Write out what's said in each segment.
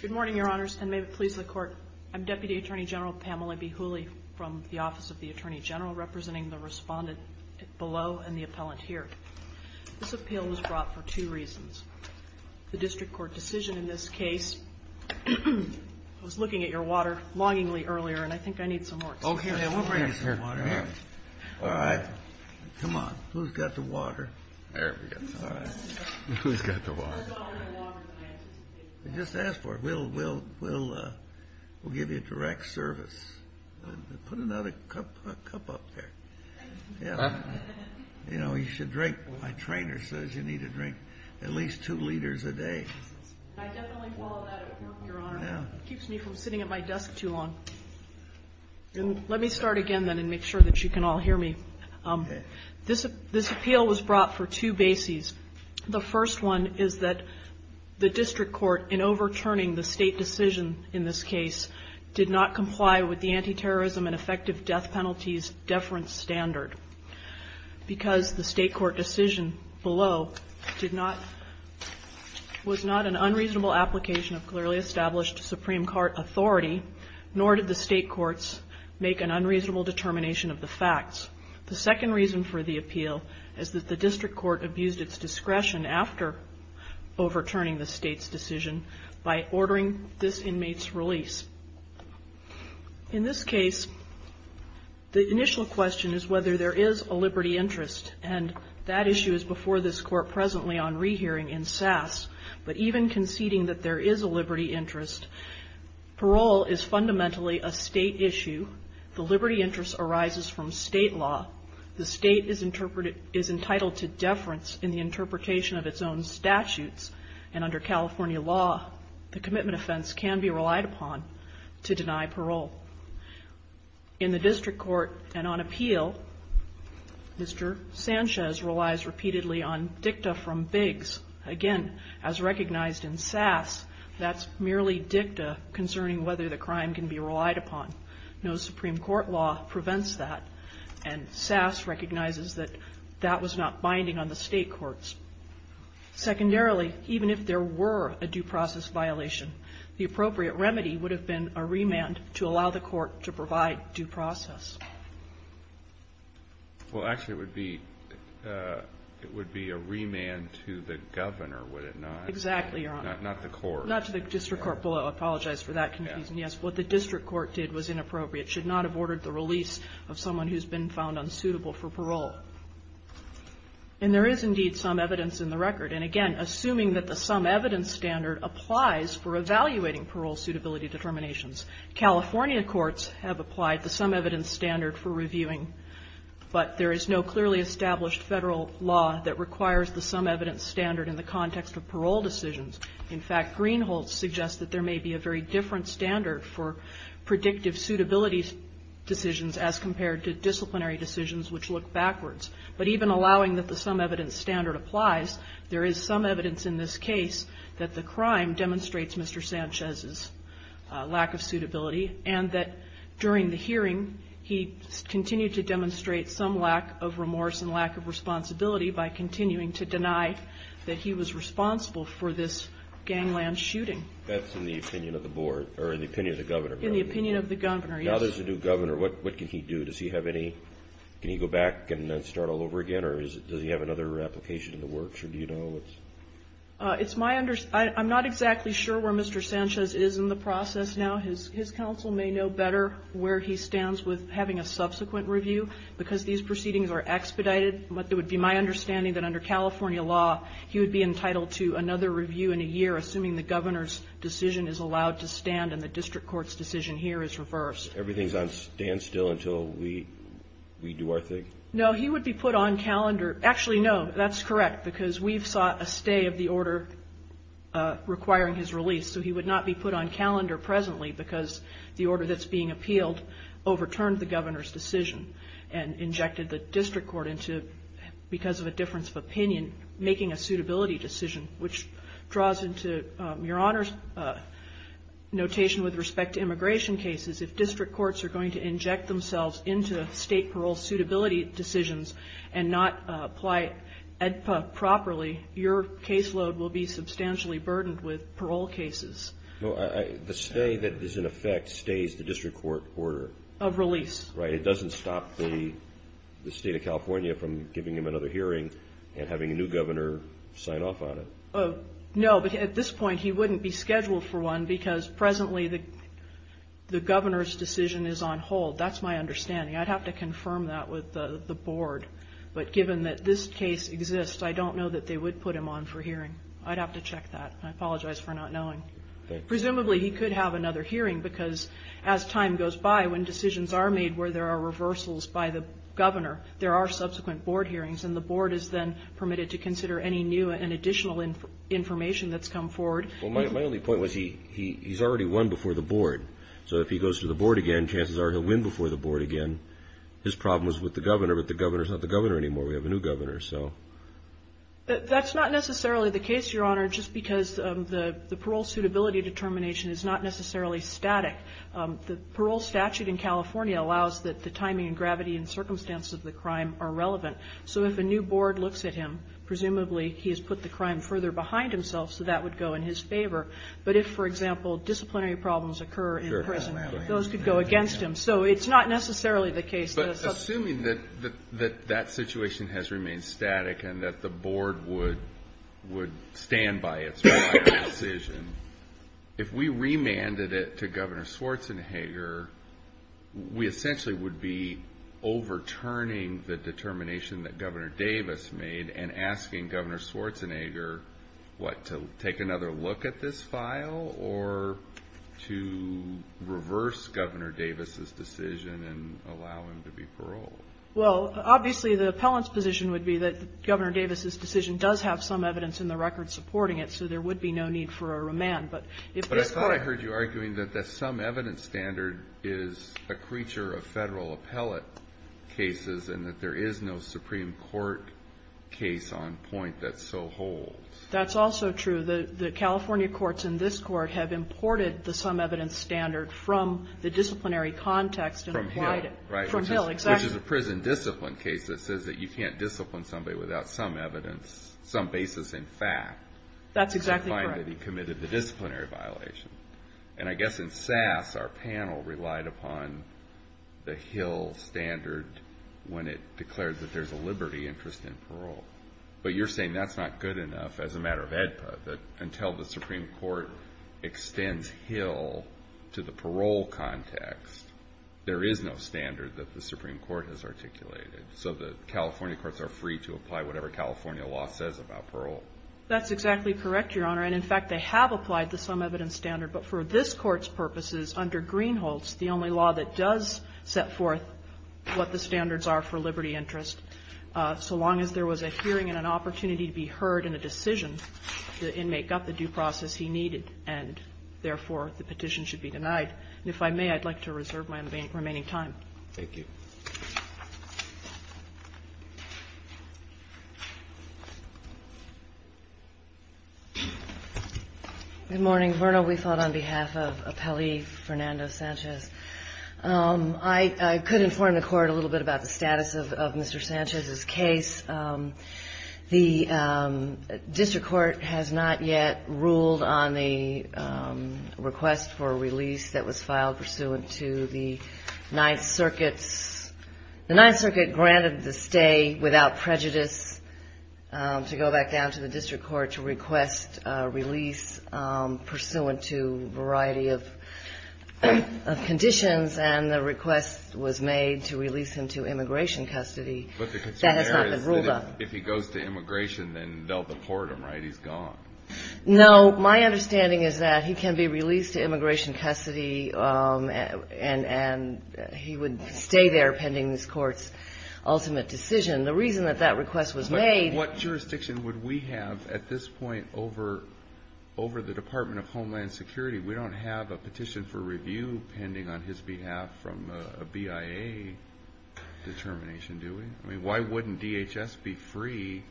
Good morning, your honors, and may it please the court. I'm Deputy Attorney General Pamela B. Hooley from the Office of the Attorney General, representing the respondent below and the appellant here. This appeal was brought for two reasons. The district court decision in this case was looking at your water longingly earlier, and I think I need some more. Okay, we'll bring you some water. All right. Come on. Who's got the water? Just ask for it. We'll give you direct service. Put another cup up there. You know, you should drink. My trainer says you need to drink at least two liters a day. I definitely follow that at work, your honor. It keeps me from sitting at my desk too long. Let me start again, then, and make sure that you can all hear me. This appeal was brought for two bases. The first one is that the district court, in overturning the state decision in this case, did not comply with the anti-terrorism and effective death penalties deference standard. Because the state court decision below was not an unreasonable application of clearly established Supreme Court authority, nor did the state courts make an unreasonable determination of the facts. The second reason for the appeal is that the district court abused its discretion after overturning the state's decision by ordering this inmate's release. In this case, the initial question is whether there is a liberty interest, and that issue is before this court presently on rehearing in SAS. But even conceding that there is a liberty interest, parole is fundamentally a state issue. The liberty interest arises from state law. The state is entitled to deference in the interpretation of its own statutes, and under California law, the commitment offense can be relied upon. In the district court, and on appeal, Mr. Sanchez relies repeatedly on dicta from Biggs. Again, as recognized in SAS, that's merely dicta concerning whether the crime can be relied upon. No Supreme Court law prevents that, and SAS recognizes that that was not binding on the state courts. Secondarily, even if there were a due process violation, the appropriate remedy would have been a remand to allow the court to provide due process. Well, actually, it would be a remand to the governor, would it not? Exactly, Your Honor. Not the court. Not to the district court. I apologize for that confusion. Yes, what the district court did was inappropriate. It should not have ordered the release of someone who's been found unsuitable for parole. And there is indeed some evidence in the record, and again, assuming that the sum evidence standard applies for evaluating parole suitability determinations. California courts have applied the sum evidence standard for reviewing, but there is no clearly established federal law that requires the sum evidence standard in the context of parole decisions. In fact, Greenholtz suggests that there may be a very different standard for predictive suitability decisions as compared to disciplinary decisions which look backwards. But even allowing that the sum evidence standard applies, there is some evidence in this case that the crime demonstrates Mr. Sanchez's lack of suitability, and that during the hearing, he continued to demonstrate some lack of remorse and lack of responsibility by continuing to deny that he was responsible for this gangland shooting. That's in the opinion of the board, or in the opinion of the governor. In the opinion of the governor, yes. Now there's a new governor, what can he do? Does he have any, can he go back and start all over again, or does he have another application in the works, or do you know? It's my, I'm not exactly sure where Mr. Sanchez is in the process now. His counsel may know better where he stands with having a subsequent review, because these proceedings are expedited. But it would be my understanding that under California law, he would be entitled to another review in a year, assuming the governor's decision is allowed to stand and the district court's decision here is reversed. Everything's on standstill until we do our thing? No, he would be put on calendar. Actually, no, that's correct, because we've sought a stay of the order requiring his release, so he would not be put on calendar presently because the order that's being appealed overturned the governor's decision and injected the district court into, because of a difference of opinion, making a suitability decision, which draws into Your Honor's notation with respect to immigration cases. If district courts are going to inject themselves into state parole suitability decisions and not apply EDPA properly, your caseload will be substantially burdened with parole cases. No, the stay that is in effect stays the district court order. Of release. Right, it doesn't stop the state of California from giving him another hearing and having a new governor sign off on it. No, but at this point he wouldn't be scheduled for one because presently the governor's decision is on hold. That's my understanding. I'd have to confirm that with the board. But given that this case exists, I don't know that they would put him on for hearing. I'd have to check that. I apologize for not knowing. Presumably he could have another hearing because as time goes by, when decisions are made where there are reversals by the governor, there are subsequent board hearings, and the board is then permitted to consider any new and additional information that's come forward. Well, my only point was he's already won before the board. So if he goes to the board again, chances are he'll win before the board again. His problem was with the governor, but the governor's not the governor anymore. We have a new governor, so. That's not necessarily the case, Your Honor, just because the parole suitability determination is not necessarily static. The parole statute in California allows that the timing and gravity and circumstances of the crime are relevant. So if a new board looks at him, presumably he has put the crime further behind himself, so that would go in his favor. But if, for example, disciplinary problems occur in prison, those could go against him. So it's not necessarily the case. But assuming that that situation has remained static and that the board would stand by its final decision, if we remanded it to Governor Schwarzenegger, we essentially would be overturning the determination that Governor Davis made and asking Governor Schwarzenegger, what, to take another look at this file or to reverse Governor Davis's decision and allow him to be paroled? Well, obviously the appellant's position would be that Governor Davis's decision does have some evidence in the record supporting it, so there would be no need for a remand. But if this court... But I thought I heard you arguing that the sum evidence standard is a creature of Federal appellate cases and that there is no Supreme Court case on point that so holds. That's also true. The California courts in this Court have imported the sum evidence standard from the disciplinary context and applied it. From Hill, right. From Hill, exactly. Which is a prison discipline case that says that you can't discipline somebody without some evidence, some basis in fact. That's exactly correct. I find that he committed the disciplinary violation. And I guess in SAS our panel relied upon the Hill standard when it declared that there's a liberty interest in parole. But you're saying that's not good enough as a matter of AEDPA, that until the Supreme Court extends Hill to the parole context, there is no standard that the Supreme Court has articulated. So the California courts are free to apply whatever California law says about parole. That's exactly correct, Your Honor. And in fact, they have applied the sum evidence standard. But for this Court's purposes, under Greenholz, the only law that does set forth what the standards are for liberty interest, so long as there was a hearing and an opportunity to be heard in a decision, the inmate got the due process he needed, and therefore the petition should be denied. And if I may, I'd like to reserve my remaining time. Thank you. Good morning. Verna, we fought on behalf of Appellee Fernando Sanchez. I could inform the Court a little bit about the status of Mr. Sanchez's case. The district court has not yet ruled on the request for release that was filed pursuant to the Ninth Circuit's The Ninth Circuit granted the stay without prejudice to go back down to the district court to request release pursuant to a variety of conditions, and the request was made to release him to immigration custody. But the concern there is if he goes to immigration, then they'll deport him, right? He's gone. No. My understanding is that he can be released to immigration custody, and he would stay there pending this Court's ultimate decision. The reason that that request was made What jurisdiction would we have at this point over the Department of Homeland Security? We don't have a petition for review pending on his behalf from a BIA determination, do we? I mean, why wouldn't DHS be free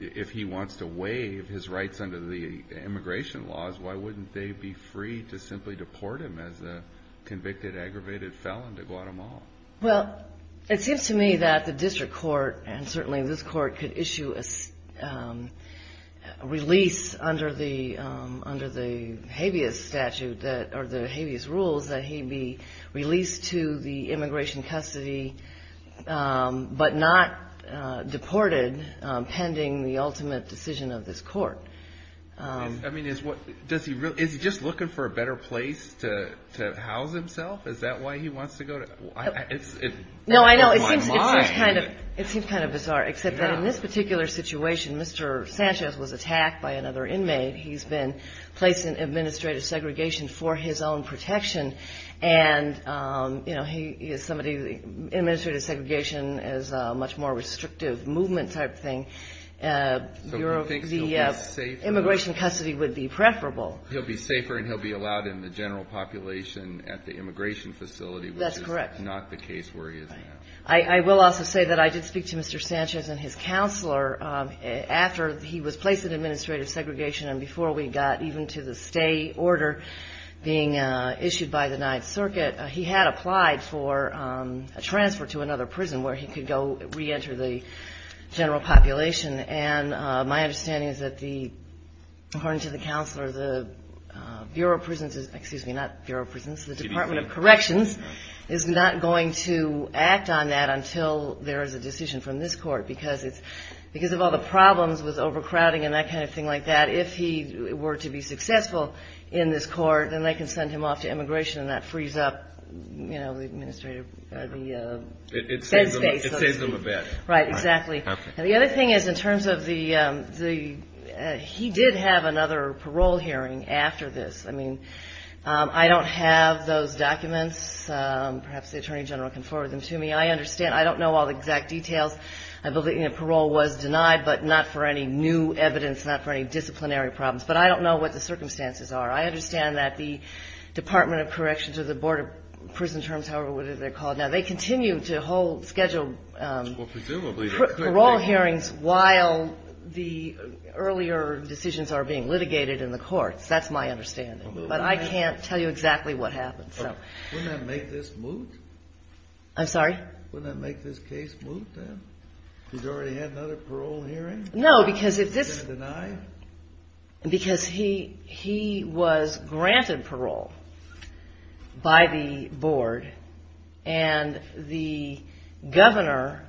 if he wants to waive his rights under the immigration laws? Why wouldn't they be free to simply deport him as a convicted, aggravated felon to Guatemala? Well, it seems to me that the district court, and certainly this Court, could issue a release under the habeas statute, or the habeas rules, that he be released to the immigration custody, but not deported pending the ultimate decision of this Court. I mean, is he just looking for a better place to house himself? Is that why he wants to go? No, I know. It seems kind of bizarre, except that in this particular situation, Mr. Sanchez was attacked by another inmate. He's been placed in administrative segregation for his own protection, and, you know, administrative segregation is a much more restrictive movement type thing. So you think he'll be safer? Immigration custody would be preferable. He'll be safer, and he'll be allowed in the general population at the immigration facility, which is not the case where he is now. That's correct. I will also say that I did speak to Mr. Sanchez and his counselor. After he was placed in administrative segregation, and before we got even to the stay order being issued by the Ninth Circuit, he had applied for a transfer to another prison where he could go reenter the general population, and my understanding is that, according to the counselor, the Bureau of Prisons, excuse me, not Bureau of Prisons, the Department of Corrections, is not going to act on that until there is a decision from this court, because of all the problems with overcrowding and that kind of thing like that, if he were to be successful in this court, then they can send him off to immigration, and that frees up, you know, the administrative, the bed space. It saves them a bed. Right, exactly. And the other thing is, in terms of the, he did have another parole hearing after this. I mean, I don't have those documents. Perhaps the Attorney General can forward them to me. I understand. I don't know all the exact details. Parole was denied, but not for any new evidence, not for any disciplinary problems. But I don't know what the circumstances are. I understand that the Department of Corrections or the Board of Prison Terms, however they're called now, they continue to hold scheduled parole hearings while the earlier decisions are being litigated in the courts. That's my understanding. But I can't tell you exactly what happened. Wouldn't that make this moot? I'm sorry? Wouldn't that make this case moot, then? He's already had another parole hearing? No, because if this was granted parole by the board, and the governor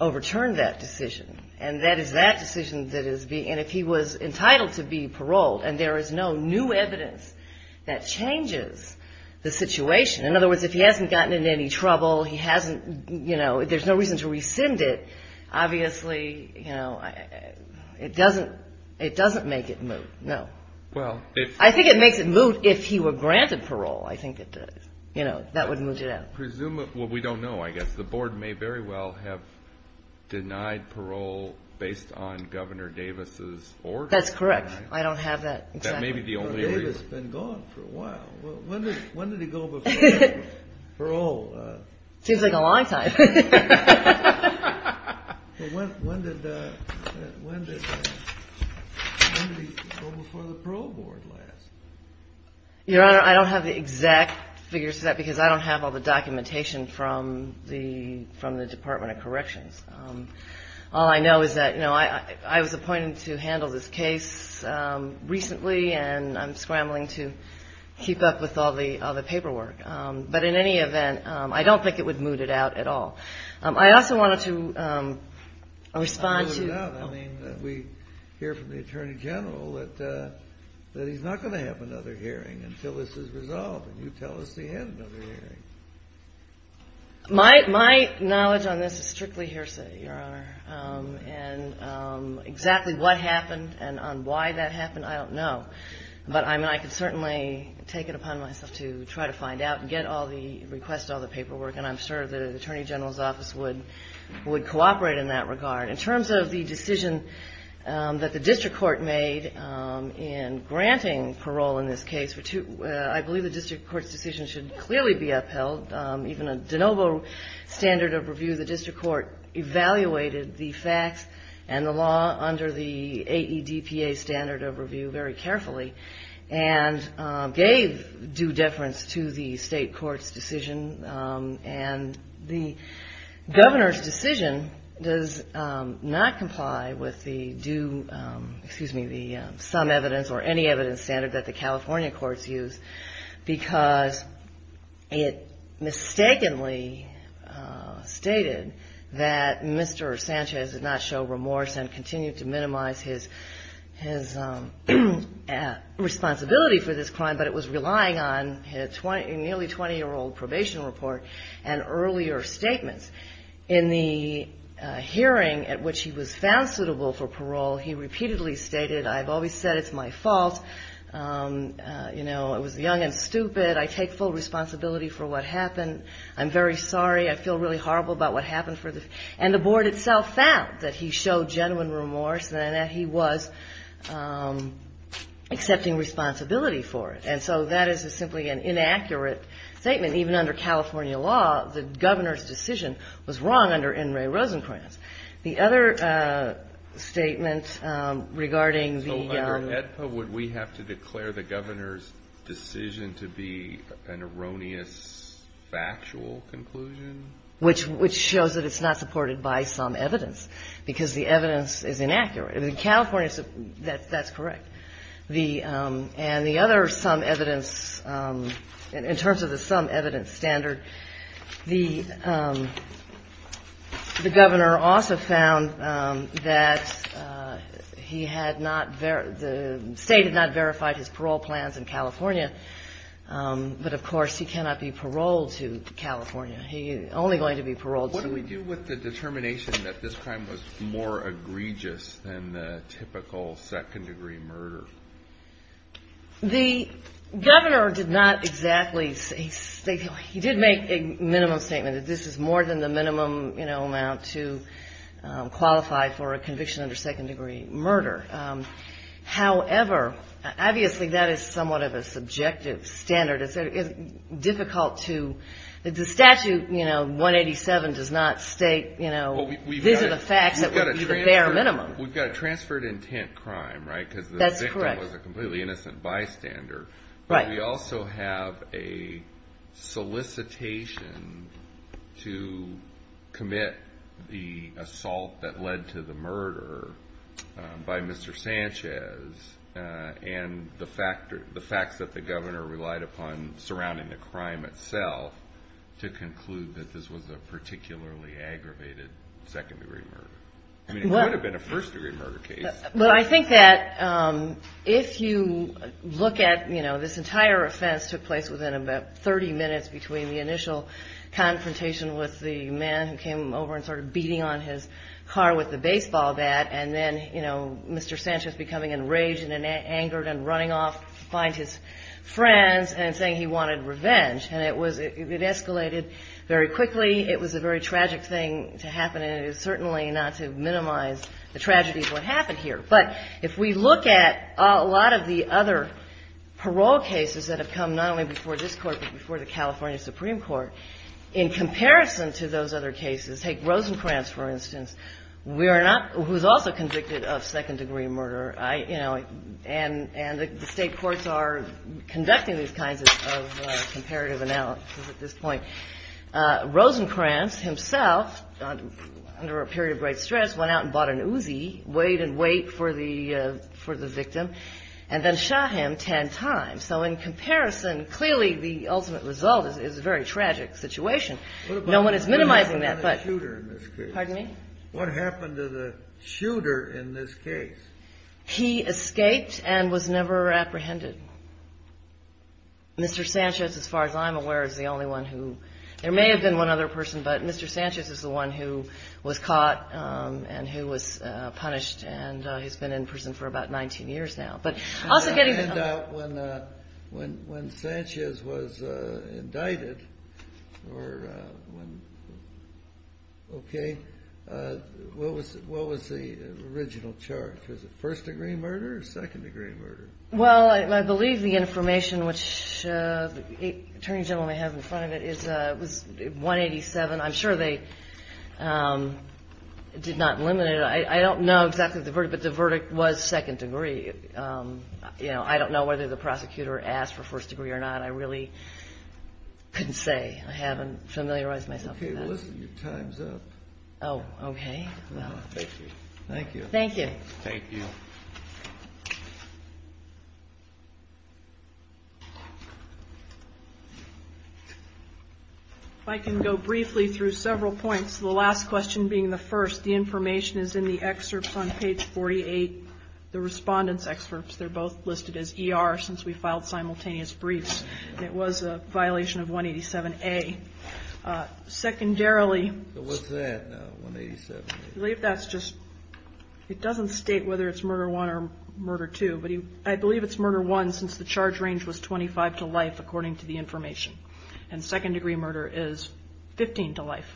overturned that decision, and that is that decision that is being, and if he was entitled to be paroled and there is no new evidence that changes the situation. In other words, if he hasn't gotten into any trouble, he hasn't, you know, there's no reason to rescind it, obviously, you know, it doesn't make it moot, no. I think it makes it moot if he were granted parole. I think that would moot it out. Well, we don't know, I guess. Because the board may very well have denied parole based on Governor Davis' order. That's correct. I don't have that. That may be the only reason. But Davis has been gone for a while. When did he go before parole? Seems like a long time. When did he go before the parole board last? Your Honor, I don't have the exact figures for that because I don't have all the documentation from the Department of Corrections. All I know is that, you know, I was appointed to handle this case recently, and I'm scrambling to keep up with all the paperwork. But in any event, I don't think it would moot it out at all. I also wanted to respond to you. I mean, we hear from the Attorney General that he's not going to have another hearing until this is resolved, and you tell us he had another hearing. My knowledge on this is strictly hearsay, Your Honor. And exactly what happened and on why that happened, I don't know. But I mean, I could certainly take it upon myself to try to find out and get all the requests, all the paperwork, and I'm sure the Attorney General's Office would cooperate in that regard. In terms of the decision that the district court made in granting parole in this case, I believe the district court's decision should clearly be upheld. Even a de novo standard of review, the district court evaluated the facts and the law under the AEDPA standard of review very carefully and gave due deference to the state court's decision. And the governor's decision does not comply with the due ‑‑ because it mistakenly stated that Mr. Sanchez did not show remorse and continued to minimize his responsibility for this crime, but it was relying on a nearly 20‑year‑old probation report and earlier statements. In the hearing at which he was found suitable for parole, he repeatedly stated, I've always said it's my fault, you know, I was young and stupid, I take full responsibility for what happened, I'm very sorry, I feel really horrible about what happened. And the board itself found that he showed genuine remorse and that he was accepting responsibility for it. And so that is simply an inaccurate statement. Even under California law, the governor's decision was wrong under N. Ray Rosencrantz. The other statement regarding the ‑‑ So under AEDPA, would we have to declare the governor's decision to be an erroneous factual conclusion? Which shows that it's not supported by some evidence, because the evidence is inaccurate. In California, that's correct. And the other some evidence, in terms of the some evidence standard, the governor also found that he had not ‑‑ the state had not verified his parole plans in California, but of course he cannot be paroled to California. He's only going to be paroled to ‑‑ What do we do with the determination that this crime was more egregious than the typical second‑degree murder? The governor did not exactly say ‑‑ he did make a minimum statement that this is more than the minimum amount to qualify for a conviction under second‑degree murder. However, obviously that is somewhat of a subjective standard. It's difficult to ‑‑ the statute, you know, 187, does not state, you know, these are the facts that would be the bare minimum. We've got a transferred intent crime, right, because the victim was a completely innocent bystander. But we also have a solicitation to commit the assault that led to the murder by Mr. Sanchez and the facts that the governor relied upon surrounding the crime itself to conclude that this was a particularly aggravated second‑degree murder. I mean, it could have been a first‑degree murder case. But I think that if you look at, you know, this entire offense took place within about 30 minutes between the initial confrontation with the man who came over and sort of beating on his car with the baseball bat, and then, you know, Mr. Sanchez becoming enraged and angered and running off to find his friends and saying he wanted revenge, and it was ‑‑ it escalated very quickly. It was a very tragic thing to happen, and it is certainly not to minimize the tragedy of what happened here. But if we look at a lot of the other parole cases that have come not only before this court but before the California Supreme Court, in comparison to those other cases, take Rosencrantz, for instance, who is also convicted of second‑degree murder, you know, and the state courts are conducting these kinds of comparative analysis at this point. Rosencrantz himself, under a period of great stress, went out and bought an Uzi, weighed and weighed for the victim, and then shot him 10 times. So in comparison, clearly the ultimate result is a very tragic situation. No one is minimizing that, but ‑‑ What about the shooter in this case? Pardon me? What happened to the shooter in this case? He escaped and was never apprehended. Mr. Sanchez, as far as I'm aware, is the only one who ‑‑ there may have been one other person, but Mr. Sanchez is the one who was caught and who was punished, and he's been in prison for about 19 years now. But also getting the ‑‑ When Sanchez was indicted, or when ‑‑ okay, what was the original charge? Was it first‑degree murder or second‑degree murder? Well, I believe the information, which the attorney general may have in front of it, was 187. I'm sure they did not eliminate it. I don't know exactly the verdict, but the verdict was second‑degree. I don't know whether the prosecutor asked for first‑degree or not. I really couldn't say. I haven't familiarized myself with that. Okay, well, listen, your time's up. Oh, okay. Thank you. Thank you. Thank you. Thank you. If I can go briefly through several points, the last question being the first. The information is in the excerpts on page 48. The respondents' excerpts, they're both listed as ER since we filed simultaneous briefs. It was a violation of 187A. Secondarily ‑‑ So what's that now, 187A? I believe that's just ‑‑ it doesn't state whether it's murder one or murder two, but I believe it's murder one since the charge range was 25 to life, according to the information. And second‑degree murder is 15 to life.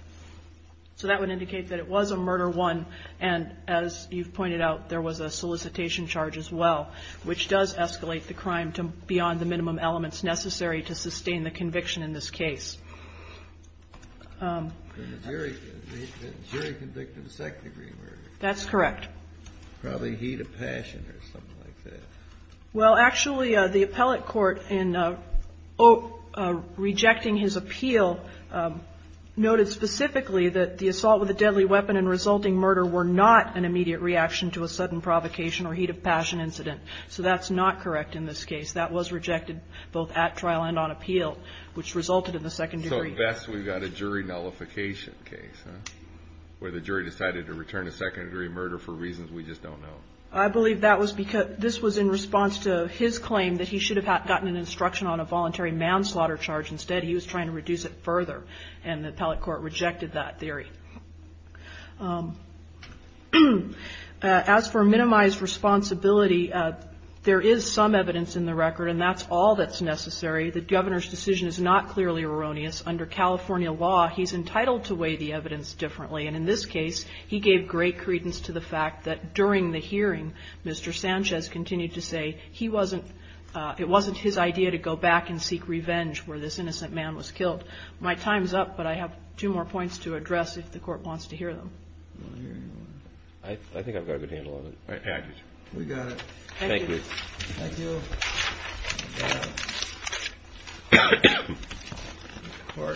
So that would indicate that it was a murder one, and as you've pointed out, there was a solicitation charge as well, which does escalate the crime beyond the minimum elements necessary to sustain the conviction in this case. Jury convicted of second‑degree murder. That's correct. Probably heat of passion or something like that. Well, actually, the appellate court in rejecting his appeal noted specifically that the assault with a deadly weapon and resulting murder were not an immediate reaction to a sudden provocation or heat of passion incident. So that's not correct in this case. That was rejected both at trial and on appeal, which resulted in the second‑degree. So at best we've got a jury nullification case, huh, where the jury decided to return a second‑degree murder for reasons we just don't know. I believe this was in response to his claim that he should have gotten an instruction on a voluntary manslaughter charge. Instead he was trying to reduce it further, and the appellate court rejected that. As for minimized responsibility, there is some evidence in the record, and that's all that's necessary. The governor's decision is not clearly erroneous. Under California law, he's entitled to weigh the evidence differently, and in this case he gave great credence to the fact that during the hearing, Mr. Sanchez continued to say it wasn't his idea to go back and seek revenge where this innocent man was killed. My time's up, but I have two more points to address if the court wants to hear them. I think I've got a good handle on it. We got it. Thank you. Thank you. Thank you. Thank you. Thank you.